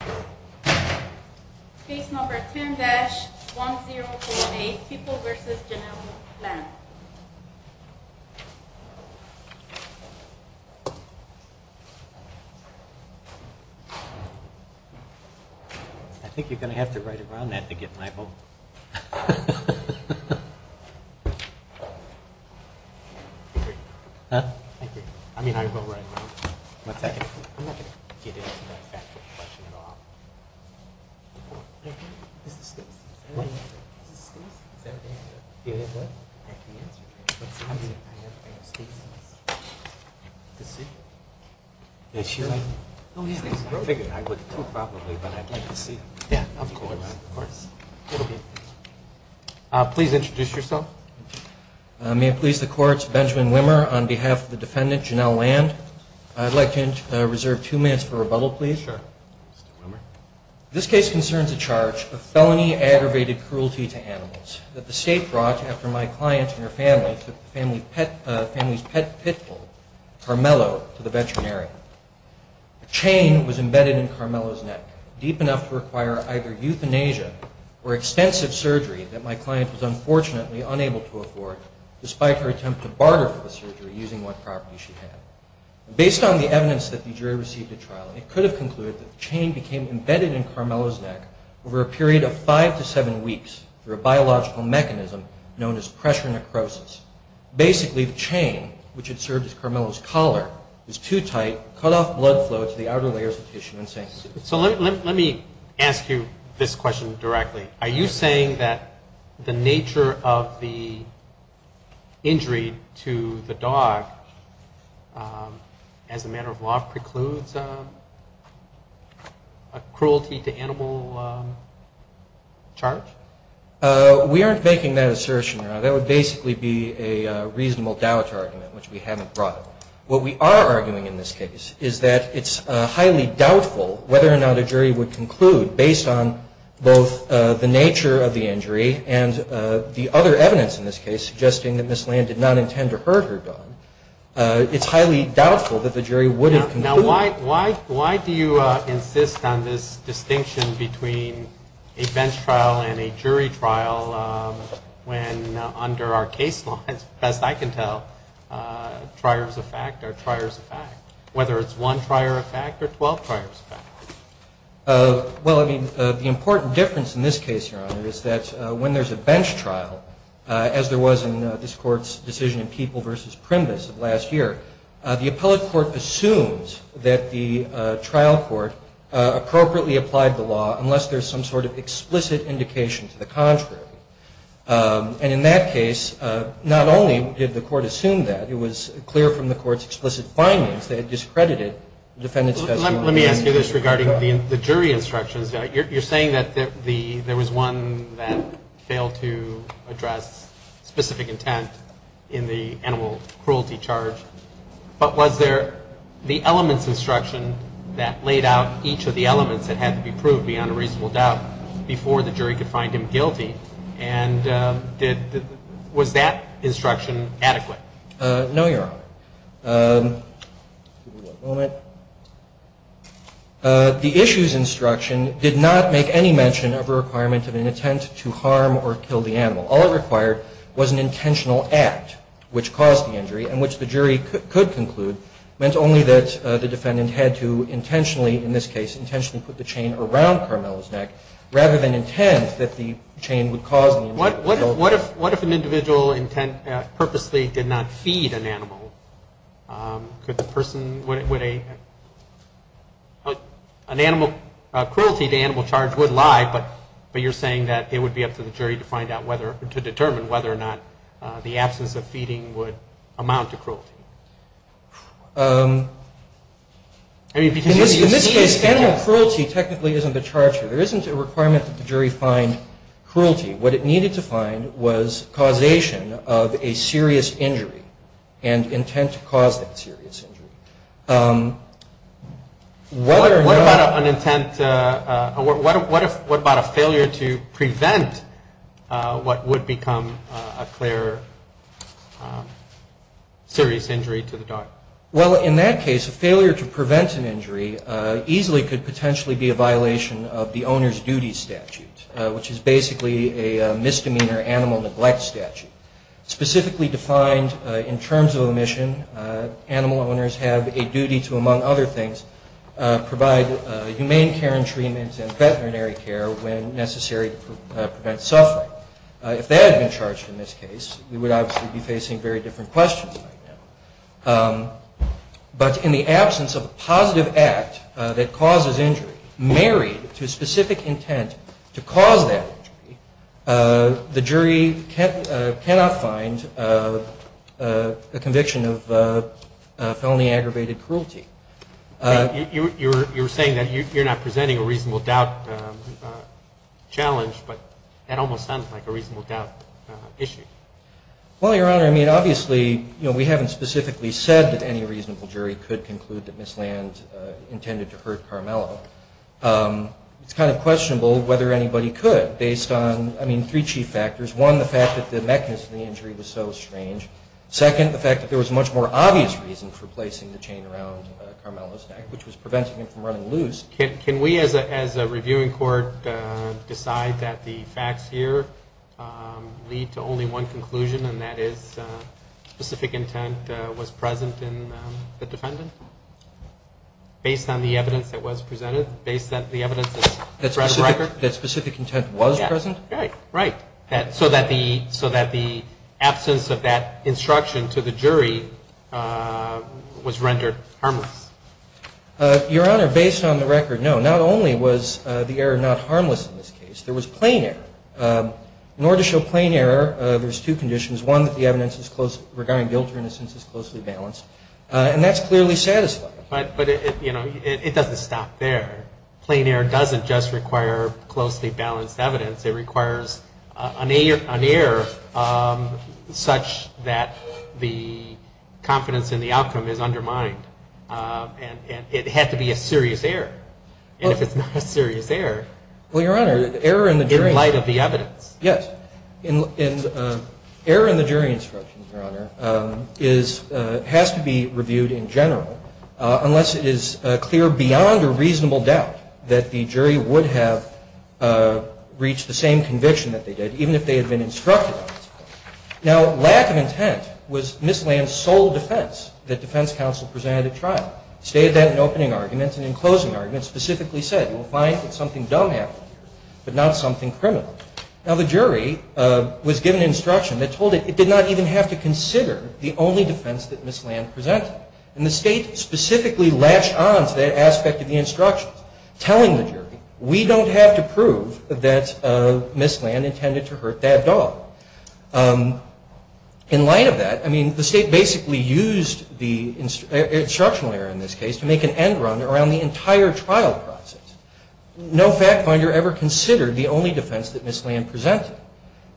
Page 10-1048 People v. General Land Page 10-1048 General Land Please introduce yourself. May it please the courts, Benjamin Wimmer on behalf of the defendant General Land. I'd like to reserve two minutes for rebuttal, please. This case concerns a charge of felony aggravated cruelty to animals that the state brought after my client and her family took the family's pet pitbull, Carmelo, to the veterinary. A chain was embedded in Carmelo's neck, deep enough to require either euthanasia or extensive surgery that my client was unfortunately unable to afford despite her attempt to barter for Based on the evidence that the jury received at trial, it could have concluded that the chain became embedded in Carmelo's neck over a period of five to seven weeks through a biological mechanism known as pressure necrosis. Basically, the chain, which had served as Carmelo's collar, was too tight, cut off blood flow to the outer layers of tissue and sanctuary. So let me ask you this question directly. Are you saying that the nature of the injury to the dog, as a matter of law, precludes a cruelty to animal charge? We aren't making that assertion now. That would basically be a reasonable doubt argument, which we haven't brought up. What we are arguing in this case is that it's highly doubtful whether or not a jury would conclude, based on both the nature of the injury and the other evidence in this case, suggesting that Ms. Land did not intend to hurt her dog, it's highly doubtful that the jury would have concluded. Now, why do you insist on this distinction between a bench trial and a jury trial when under our case law, as best I can tell, trier is a fact or trier is a fact, whether it's one trier a fact or 12 triers a fact? Well, I mean, the important difference in this case, Your Honor, is that when there's a bench trial, as there was in this Court's decision in People v. Primbus of last year, the appellate court assumes that the trial court appropriately applied the law unless there's some sort of explicit indication to the contrary. And in that case, not only did the court assume that, it was clear from the court's explicit findings that it discredited defendant's testimony. Let me ask you this regarding the jury instructions. You're saying that there was one that failed to address specific intent in the animal cruelty charge, but was there the elements instruction that laid out each of the elements that had to be proved beyond a reasonable doubt before the jury could find him guilty? And was that instruction adequate? No, Your Honor. The issues instruction did not make any mention of a requirement of an intent to harm or kill the animal. All it required was an intentional act which caused the injury and which the jury could conclude meant only that the defendant had to intentionally, in this case, intentionally put the chain around Carmelo's neck rather than intend that the chain would cause the injury or kill the animal. What if an individual intent purposely did not feed an animal? Could the person, would they, an animal, cruelty to animal charge would lie, but you're saying that it would be up to the jury to find out whether, to determine whether or not the absence of feeding would amount to cruelty? In this case, animal cruelty technically isn't the charge here. There isn't a requirement that the jury find cruelty. What it needed to find was causation of a serious injury and intent to cause that serious injury. What about an intent, what about a failure to prevent what would become a clear serious injury to the dog? Well, in that case, a failure to prevent an injury easily could potentially be a violation of the owner's duty statute, which is basically a misdemeanor animal neglect statute, specifically defined in terms of omission. Animal owners have a duty to, among other things, provide humane care and treatment and veterinary care when necessary to prevent suffering. If that had been charged in this case, we would obviously be facing very different questions right now. But in the absence of a positive act that causes injury, married to a specific injury, we would be facing a conviction of felony aggravated cruelty. You're saying that you're not presenting a reasonable doubt challenge, but that almost sounds like a reasonable doubt issue. Well, Your Honor, I mean, obviously, you know, we haven't specifically said that any reasonable jury could conclude that Miss Land intended to hurt Carmelo. It's kind of questionable whether anybody could based on, I mean, three chief factors. One, the fact that the mechanism of the injury was so strange. Second, the fact that there was much more obvious reason for placing the chain around Carmelo's neck, which was preventing him from running loose. Can we, as a reviewing court, decide that the facts here lead to only one conclusion, and that is specific intent was present in the defendant? Based on the evidence that was presented? Based on the evidence in the record? That specific intent was present? Right. So that the absence of that instruction to the jury was rendered harmless? Your Honor, based on the record, no. Not only was the error not harmless in this case, there was plain error. In order to show plain error, there's two conditions. One, that the evidence regarding guilt or innocence is closely balanced, and that's clearly satisfying. But, you know, it doesn't stop there. Plain error doesn't just require closely balanced evidence, it requires an error such that the confidence in the outcome is undermined. And it had to be a serious error. And if it's not a serious error, in light of the evidence. Yes. Error in the jury instructions, Your Honor, has to be reviewed in general, unless it is clear beyond a reasonable doubt that the jury would have reached the same conviction that they did, even if they had been instructed on it. Now, lack of intent was Ms. Land's sole defense that defense counsel presented at trial. Stated that in opening arguments, and in closing arguments, specifically said, you will find that something dumb happened here, but not something criminal. Now, the jury was given instruction that told it, it did not even have to consider the only defense that Ms. Land presented. And the state specifically latched on to that aspect of the instructions, telling the jury, we don't have to prove that Ms. Land intended to hurt that dog. In light of that, I mean, the state basically used the instructional error in this case to make an end run around the entire trial process. No fact finder ever considered the only defense that Ms. Land presented.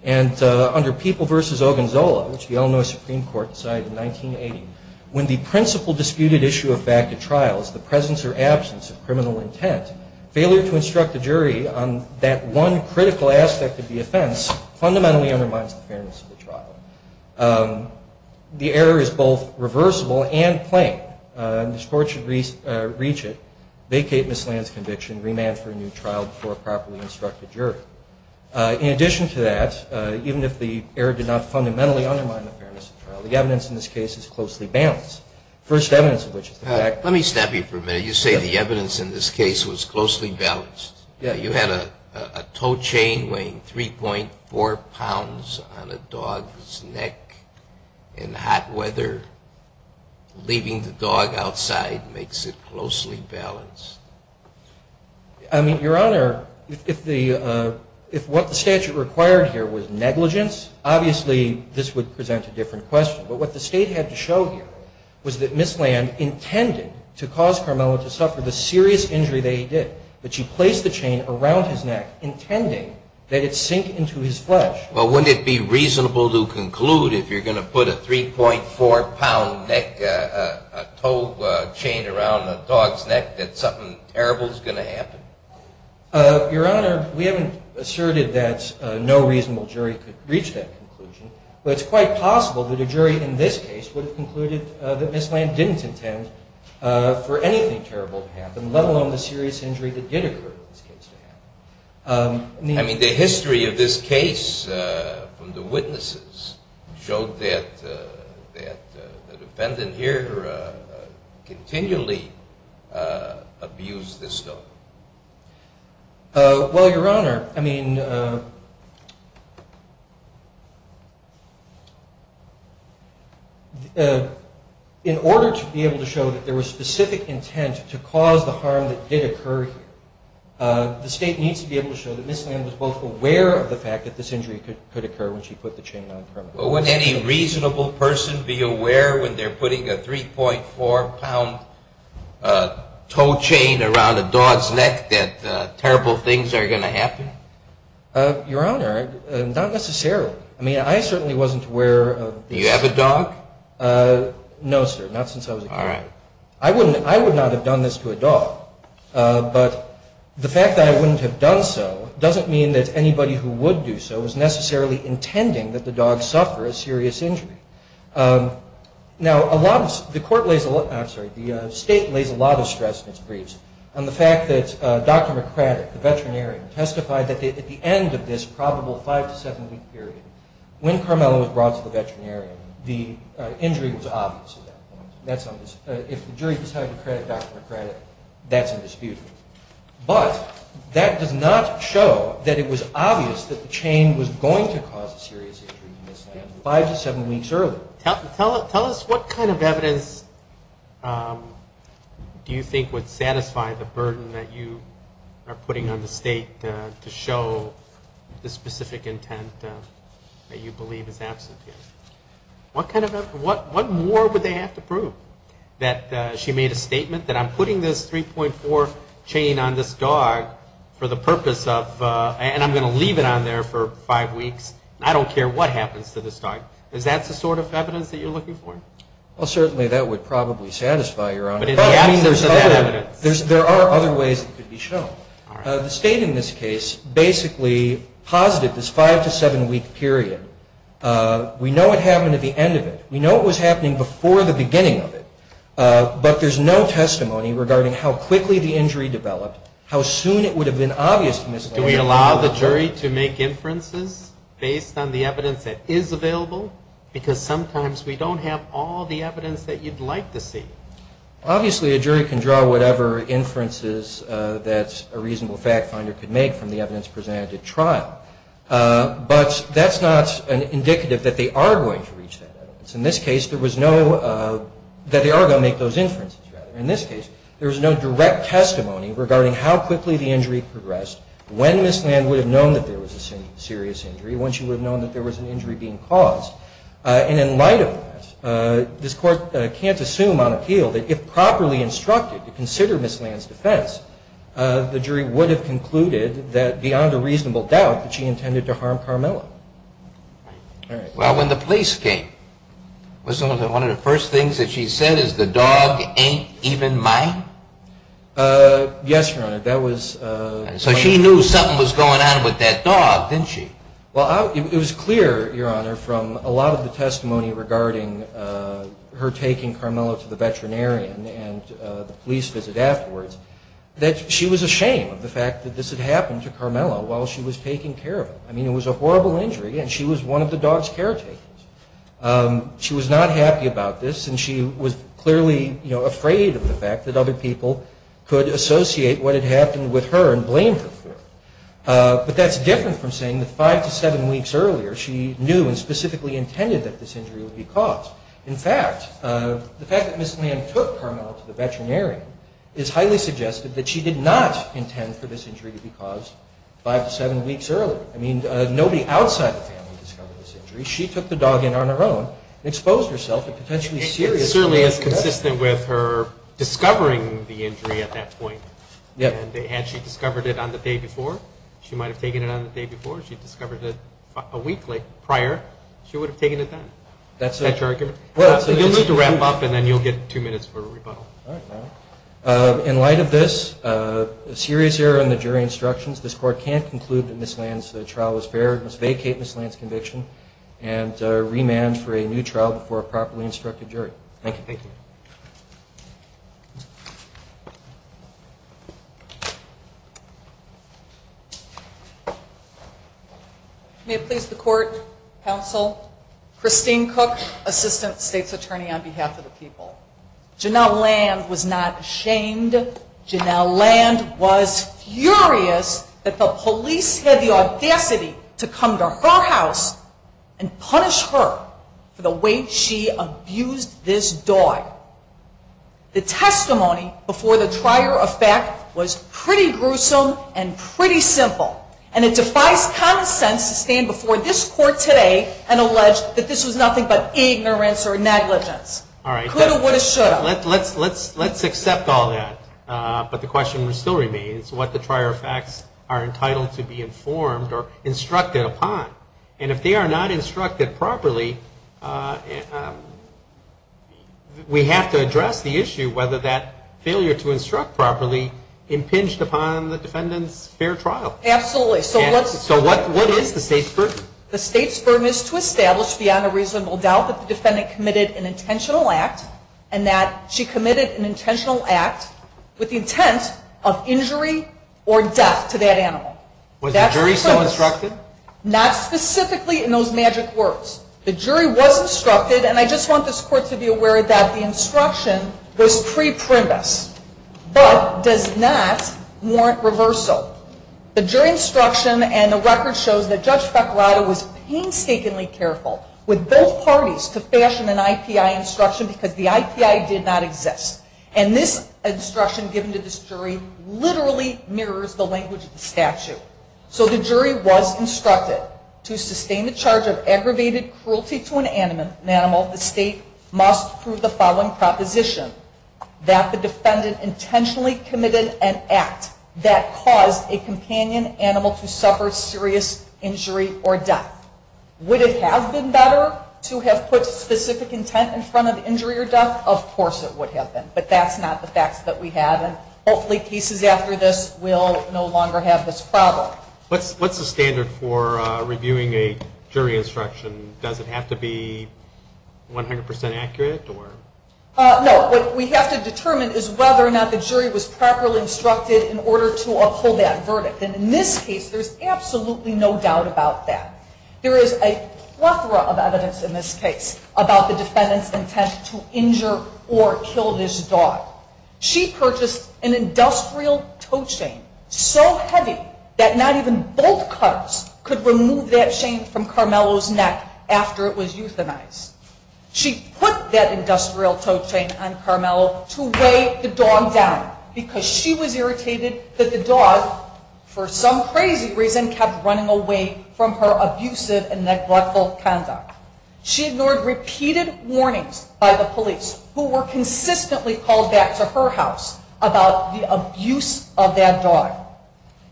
And under People v. Ogonzola, which the Illinois Supreme Court decided in 1980, when the principle disputed issue of fact at trial is the presence or absence of criminal intent, failure to instruct a jury on that one critical aspect of the offense fundamentally undermines the fairness of the trial. The error is both reversible and plain. The court should reach it, vacate Ms. Land's conviction, remand for a new trial before a properly instructed jury. In addition to that, even if the error did not fundamentally undermine the fairness of trial, the evidence in this case is closely balanced. First evidence of which is the fact that- Let me stop you for a minute. You say the evidence in this case was closely balanced. You had a tow chain weighing 3.4 pounds on a dog's neck in hot weather. Leaving the dog outside makes it closely balanced. I mean, Your Honor, if what the statute required here was negligence, obviously this would present a different question. But what the state had to show here was that Ms. Land intended to cause Carmelo to suffer the serious injury that he did. But she placed the chain around his neck, intending that it sink into his flesh. Well, wouldn't it be reasonable to conclude if you're going to put a 3.4 pound neck, a tow chain around a dog's neck, that something terrible is going to happen? Your Honor, we haven't asserted that no reasonable jury could reach that conclusion. But it's quite possible that a jury in this case would have concluded that Ms. Land didn't intend for anything terrible to happen, let alone the serious injury that did occur in this case to happen. I mean, the history of this case from the witnesses showed that the defendant here continually abused this dog. Well, Your Honor, I mean, in order to be able to show that there was specific intent to cause the harm that did occur here, the state needs to be able to show that Ms. Land was both aware of the fact that this injury could occur when she put the chain on Carmelo. But would any reasonable person be aware when they're putting a 3.4 pound tow chain around a dog's neck that terrible things are going to happen? Your Honor, not necessarily. I mean, I certainly wasn't aware of this. Do you have a dog? No, sir, not since I was a kid. All right. I would not have done this to a dog. But the fact that I wouldn't have done so doesn't mean that anybody who would do so was necessarily intending that the dog suffer a serious injury. Now, the state lays a lot of stress in its briefs on the fact that Dr. McCraddock, the veterinarian, testified that at the end of this probable five- to seven-week period, when Carmelo was brought to the veterinarian, the injury was obvious at that point. If the jury decided to credit Dr. McCraddock, that's indisputable. But that does not show that it was obvious that the chain was going to cause a serious injury to Ms. Land five to seven weeks early. Tell us what kind of evidence do you think would satisfy the burden that you are putting on the state to show the specific intent that you believe is absent here? What more would they have to prove? That she made a statement that I'm putting this 3.4 chain on this dog for the purpose of, and I'm going to leave it on there for five weeks, and I don't care what happens to this dog. Is that the sort of evidence that you're looking for? Well, certainly that would probably satisfy, Your Honor. But in the absence of that evidence. There are other ways it could be shown. The state in this case basically posited this five- to seven-week period. We know what happened at the end of it. We know what was happening before the beginning of it. But there's no testimony regarding how quickly the injury developed, how soon it would have been obvious to Ms. Land. Do we allow the jury to make inferences based on the evidence that is available? Because sometimes we don't have all the evidence that you'd like to see. Obviously a jury can draw whatever inferences that a reasonable fact finder could make from the evidence presented at trial. But that's not indicative that they are going to reach that evidence. In this case, there was no, that they are going to make those inferences, rather. In this case, there was no direct testimony regarding how quickly the injury progressed, when Ms. Land would have known that there was a serious injury, when she would have known that there was an injury being caused. And in light of that, this Court can't assume on appeal that if properly instructed to consider Ms. Land's defense, the jury would have concluded that beyond a reasonable doubt that she intended to harm Carmella. All right. Well, when the police came, was one of the first things that she said is, the dog ain't even mine? Yes, Your Honor. That was... So she knew something was going on with that dog, didn't she? Well, it was clear, Your Honor, from a lot of the testimony regarding her taking Carmella to the veterinarian and the police visit afterwards, that she was ashamed of the fact that this had happened to Carmella while she was taking care of him. I mean, it was a horrible injury, and she was one of the dog's caretakers. She was not happy about this, and she was clearly afraid of the fact that other people could associate what had happened with her and blame her for it. But that's different from saying that five to seven weeks earlier, she knew and specifically intended that this injury would be caused. In fact, the fact that Ms. Land took Carmella to the veterinarian is highly suggested that she did not intend for this injury to be caused five to seven weeks earlier. I mean, nobody outside the family discovered this injury. She took the dog in on her own and exposed herself to potentially serious... It certainly is consistent with her discovering the injury at that point. And had she discovered it on the day before, she might have taken it on the day before. If she discovered it a week prior, she would have taken it then. That's a... You'll need to wrap up, and then you'll get two minutes for rebuttal. All right. In light of this, a serious error in the jury instructions. This Court can't conclude that Ms. Land's trial was fair. It must vacate Ms. Land's conviction and remand for a new trial before a properly instructed jury. Thank you. Thank you. May it please the Court, Counsel, Christine Cook, Assistant State's Attorney on behalf of the people. Janelle Land was not ashamed. Janelle Land was furious that the police had the audacity to come to her house and punish her for the way she abused this dog. The testimony before the trier of fact was pretty gruesome and pretty simple. And it defies common sense to stand before this Court today and allege that this was nothing but ignorance or negligence. All right. Could have, would have, should have. Let's accept all that. But the question still remains what the trier of facts are entitled to be informed or instructed upon. And if they are not instructed properly, we have to address the issue whether that failure to instruct properly impinged upon the defendant's fair trial. Absolutely. So what is the State's burden? The State's burden is to establish beyond a reasonable doubt that the defendant committed an intentional act and that she committed an intentional act with the intent of injury or death to that animal. Was the jury so instructed? Not specifically in those magic words. The jury was instructed, and I just want this Court to be aware that the instruction was pre-primus, but does not warrant reversal. The jury instruction and the record shows that Judge Fecorato was painstakingly careful with both parties to fashion an IPI instruction because the IPI did not exist. And this instruction given to this jury literally mirrors the language of the statute. So the jury was instructed to sustain the charge of aggravated cruelty to an animal. The State must prove the following proposition, that the defendant intentionally committed an act that caused a companion animal to suffer serious injury or death. Would it have been better to have put specific intent in front of injury or death? Of course it would have been, but that's not the facts that we have, and hopefully cases after this will no longer have this problem. What's the standard for reviewing a jury instruction? Does it have to be 100% accurate? No, what we have to determine is whether or not the jury was properly instructed in order to uphold that verdict. And in this case, there's absolutely no doubt about that. There is a plethora of evidence in this case about the defendant's intent to injure or kill this dog. She purchased an industrial toe chain so heavy that not even both cubs could remove that chain from Carmelo's neck after it was euthanized. She put that industrial toe chain on Carmelo to weigh the dog down because she was irritated that the dog, for some crazy reason, kept running away from her abusive and neglectful conduct. She ignored repeated warnings by the police who were consistently called back to her house about the abuse of that dog.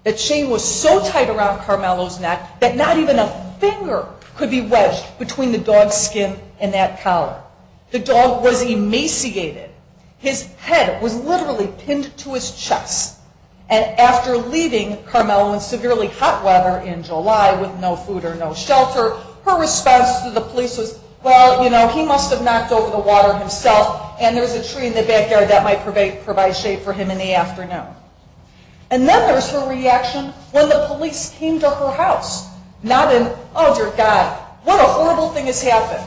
The chain was so tight around Carmelo's neck that not even a finger could be wedged between the dog's skin and that collar. The dog was emaciated. His head was literally pinned to his chest. And after leaving Carmelo in severely hot weather in July with no food or no shelter, her response to the police was, well, you know, he must have knocked over the water himself and there's a tree in the backyard that might provide shade for him in the afternoon. And then there's her reaction when the police came to her house, nodding, oh, dear God, what a horrible thing has happened.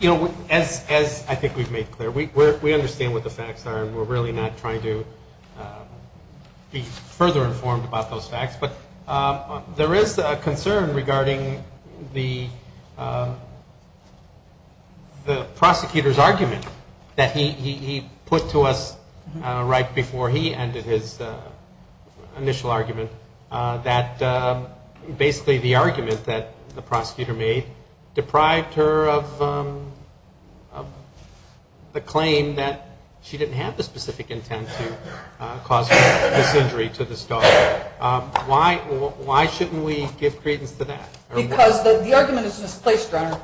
You know, as I think we've made clear, we understand what the facts are and we're really not trying to be further informed about those facts, but there is a concern regarding the prosecutor's argument that he put to us right before he ended his initial argument that basically the argument that the prosecutor made deprived her of the claim that she didn't have the specific intent to cause this injury to this dog. Why shouldn't we give credence to that? Because the argument is misplaced, Your Honor.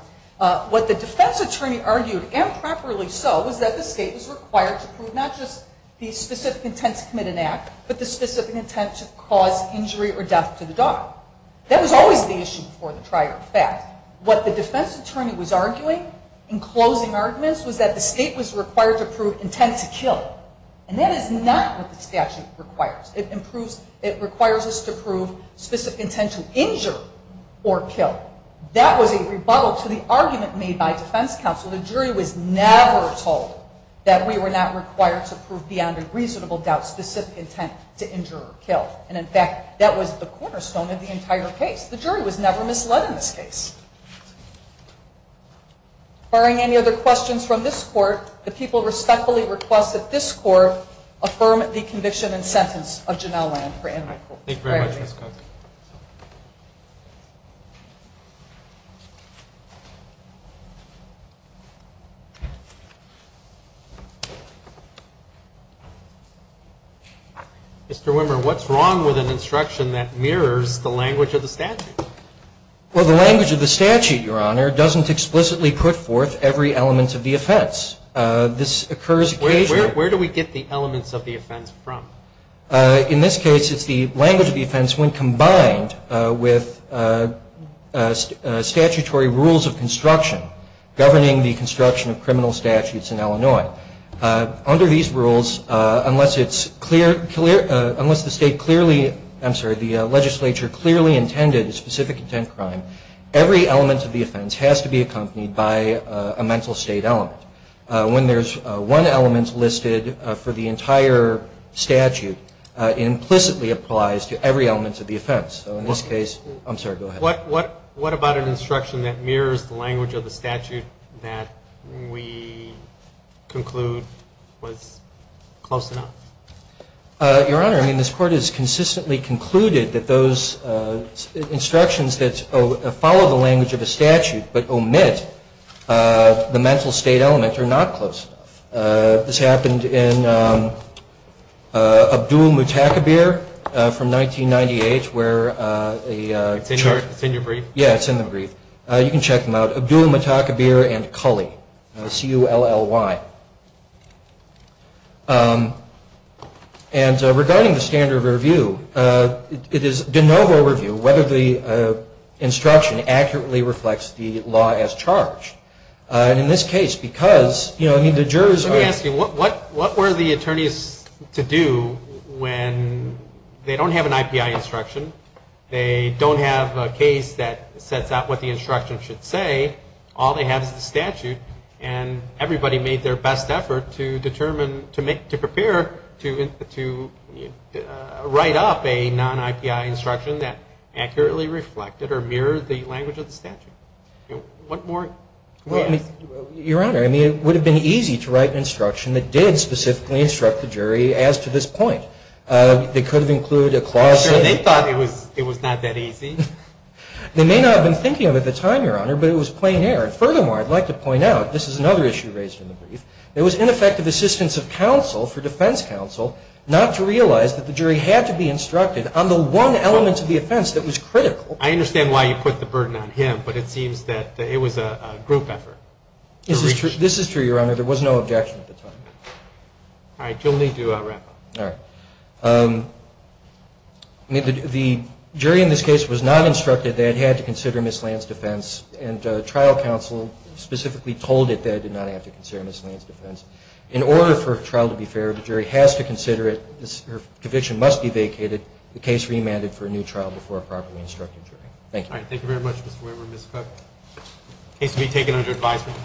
What the defense attorney argued, and properly so, was that the state was required to prove not just the specific intent to commit an act, but the specific intent to cause injury or death to the dog. That was always the issue before the trial, in fact. What the defense attorney was arguing in closing arguments was that the state was required to prove intent to kill. And that is not what the statute requires. It requires us to prove specific intent to injure or kill. That was a rebuttal to the argument made by defense counsel. The jury was never told that we were not required to prove beyond a reasonable doubt specific intent to injure or kill. And, in fact, that was the cornerstone of the entire case. The jury was never misled in this case. Firing any other questions from this Court, the people respectfully request that this Court affirm the conviction and sentence of Janelle Land for animal cruelty. Thank you very much, Ms. Cox. Mr. Wimmer, what's wrong with an instruction that mirrors the language of the statute? Well, the language of the statute, Your Honor, doesn't explicitly put forth every element of the offense. This occurs occasionally. Where do we get the elements of the offense from? In this case, it's the language of the offense when combined with statutory rules of construction, governing the construction of criminal statutes in Illinois. Under these rules, unless the legislature clearly intended a specific intent crime, every element of the offense has to be accompanied by a mental state element. When there's one element listed for the entire statute, it implicitly applies to every element of the offense. So in this case, I'm sorry, go ahead. What about an instruction that mirrors the language of the statute that we conclude was close enough? Your Honor, I mean, this Court has consistently concluded that those instructions that follow the language of a statute but omit the mental state element are not close enough. This happened in Abdul-Mutakabir from 1998 where a charge... It's in your brief? Yeah, it's in the brief. You can check them out. Abdul-Mutakabir and Cully, C-U-L-L-Y. And regarding the standard of review, it is de novo review whether the instruction accurately reflects the law as charged. And in this case, because, you know, the jurors are... Let me ask you, what were the attorneys to do when they don't have an IPI instruction, they don't have a case that sets out what the instruction should say, all they have is the statute, and everybody made their best effort to determine, to prepare to write up a non-IPI instruction that accurately reflected or mirrored the language of the statute. What more... Your Honor, I mean, it would have been easy to write an instruction that did specifically instruct the jury as to this point. They could have included a clause... Sure, they thought it was not that easy. They may not have been thinking of it at the time, Your Honor, but it was plain error. Furthermore, I'd like to point out, this is another issue raised in the brief, there was ineffective assistance of counsel for defense counsel not to realize that the jury had to be instructed on the one element of the offense that was critical. I understand why you put the burden on him, but it seems that it was a group effort. This is true, Your Honor. There was no objection at the time. All right, you'll need to wrap up. All right. The jury in this case was not instructed that it had to consider miscellaneous defense, and trial counsel specifically told it that it did not have to consider miscellaneous defense. In order for a trial to be fair, the jury has to consider it, the conviction must be vacated, the case remanded for a new trial before a properly instructed jury. Thank you. All right, thank you very much, Mr. Weber. Ms. Cook, case to be taken under advisement.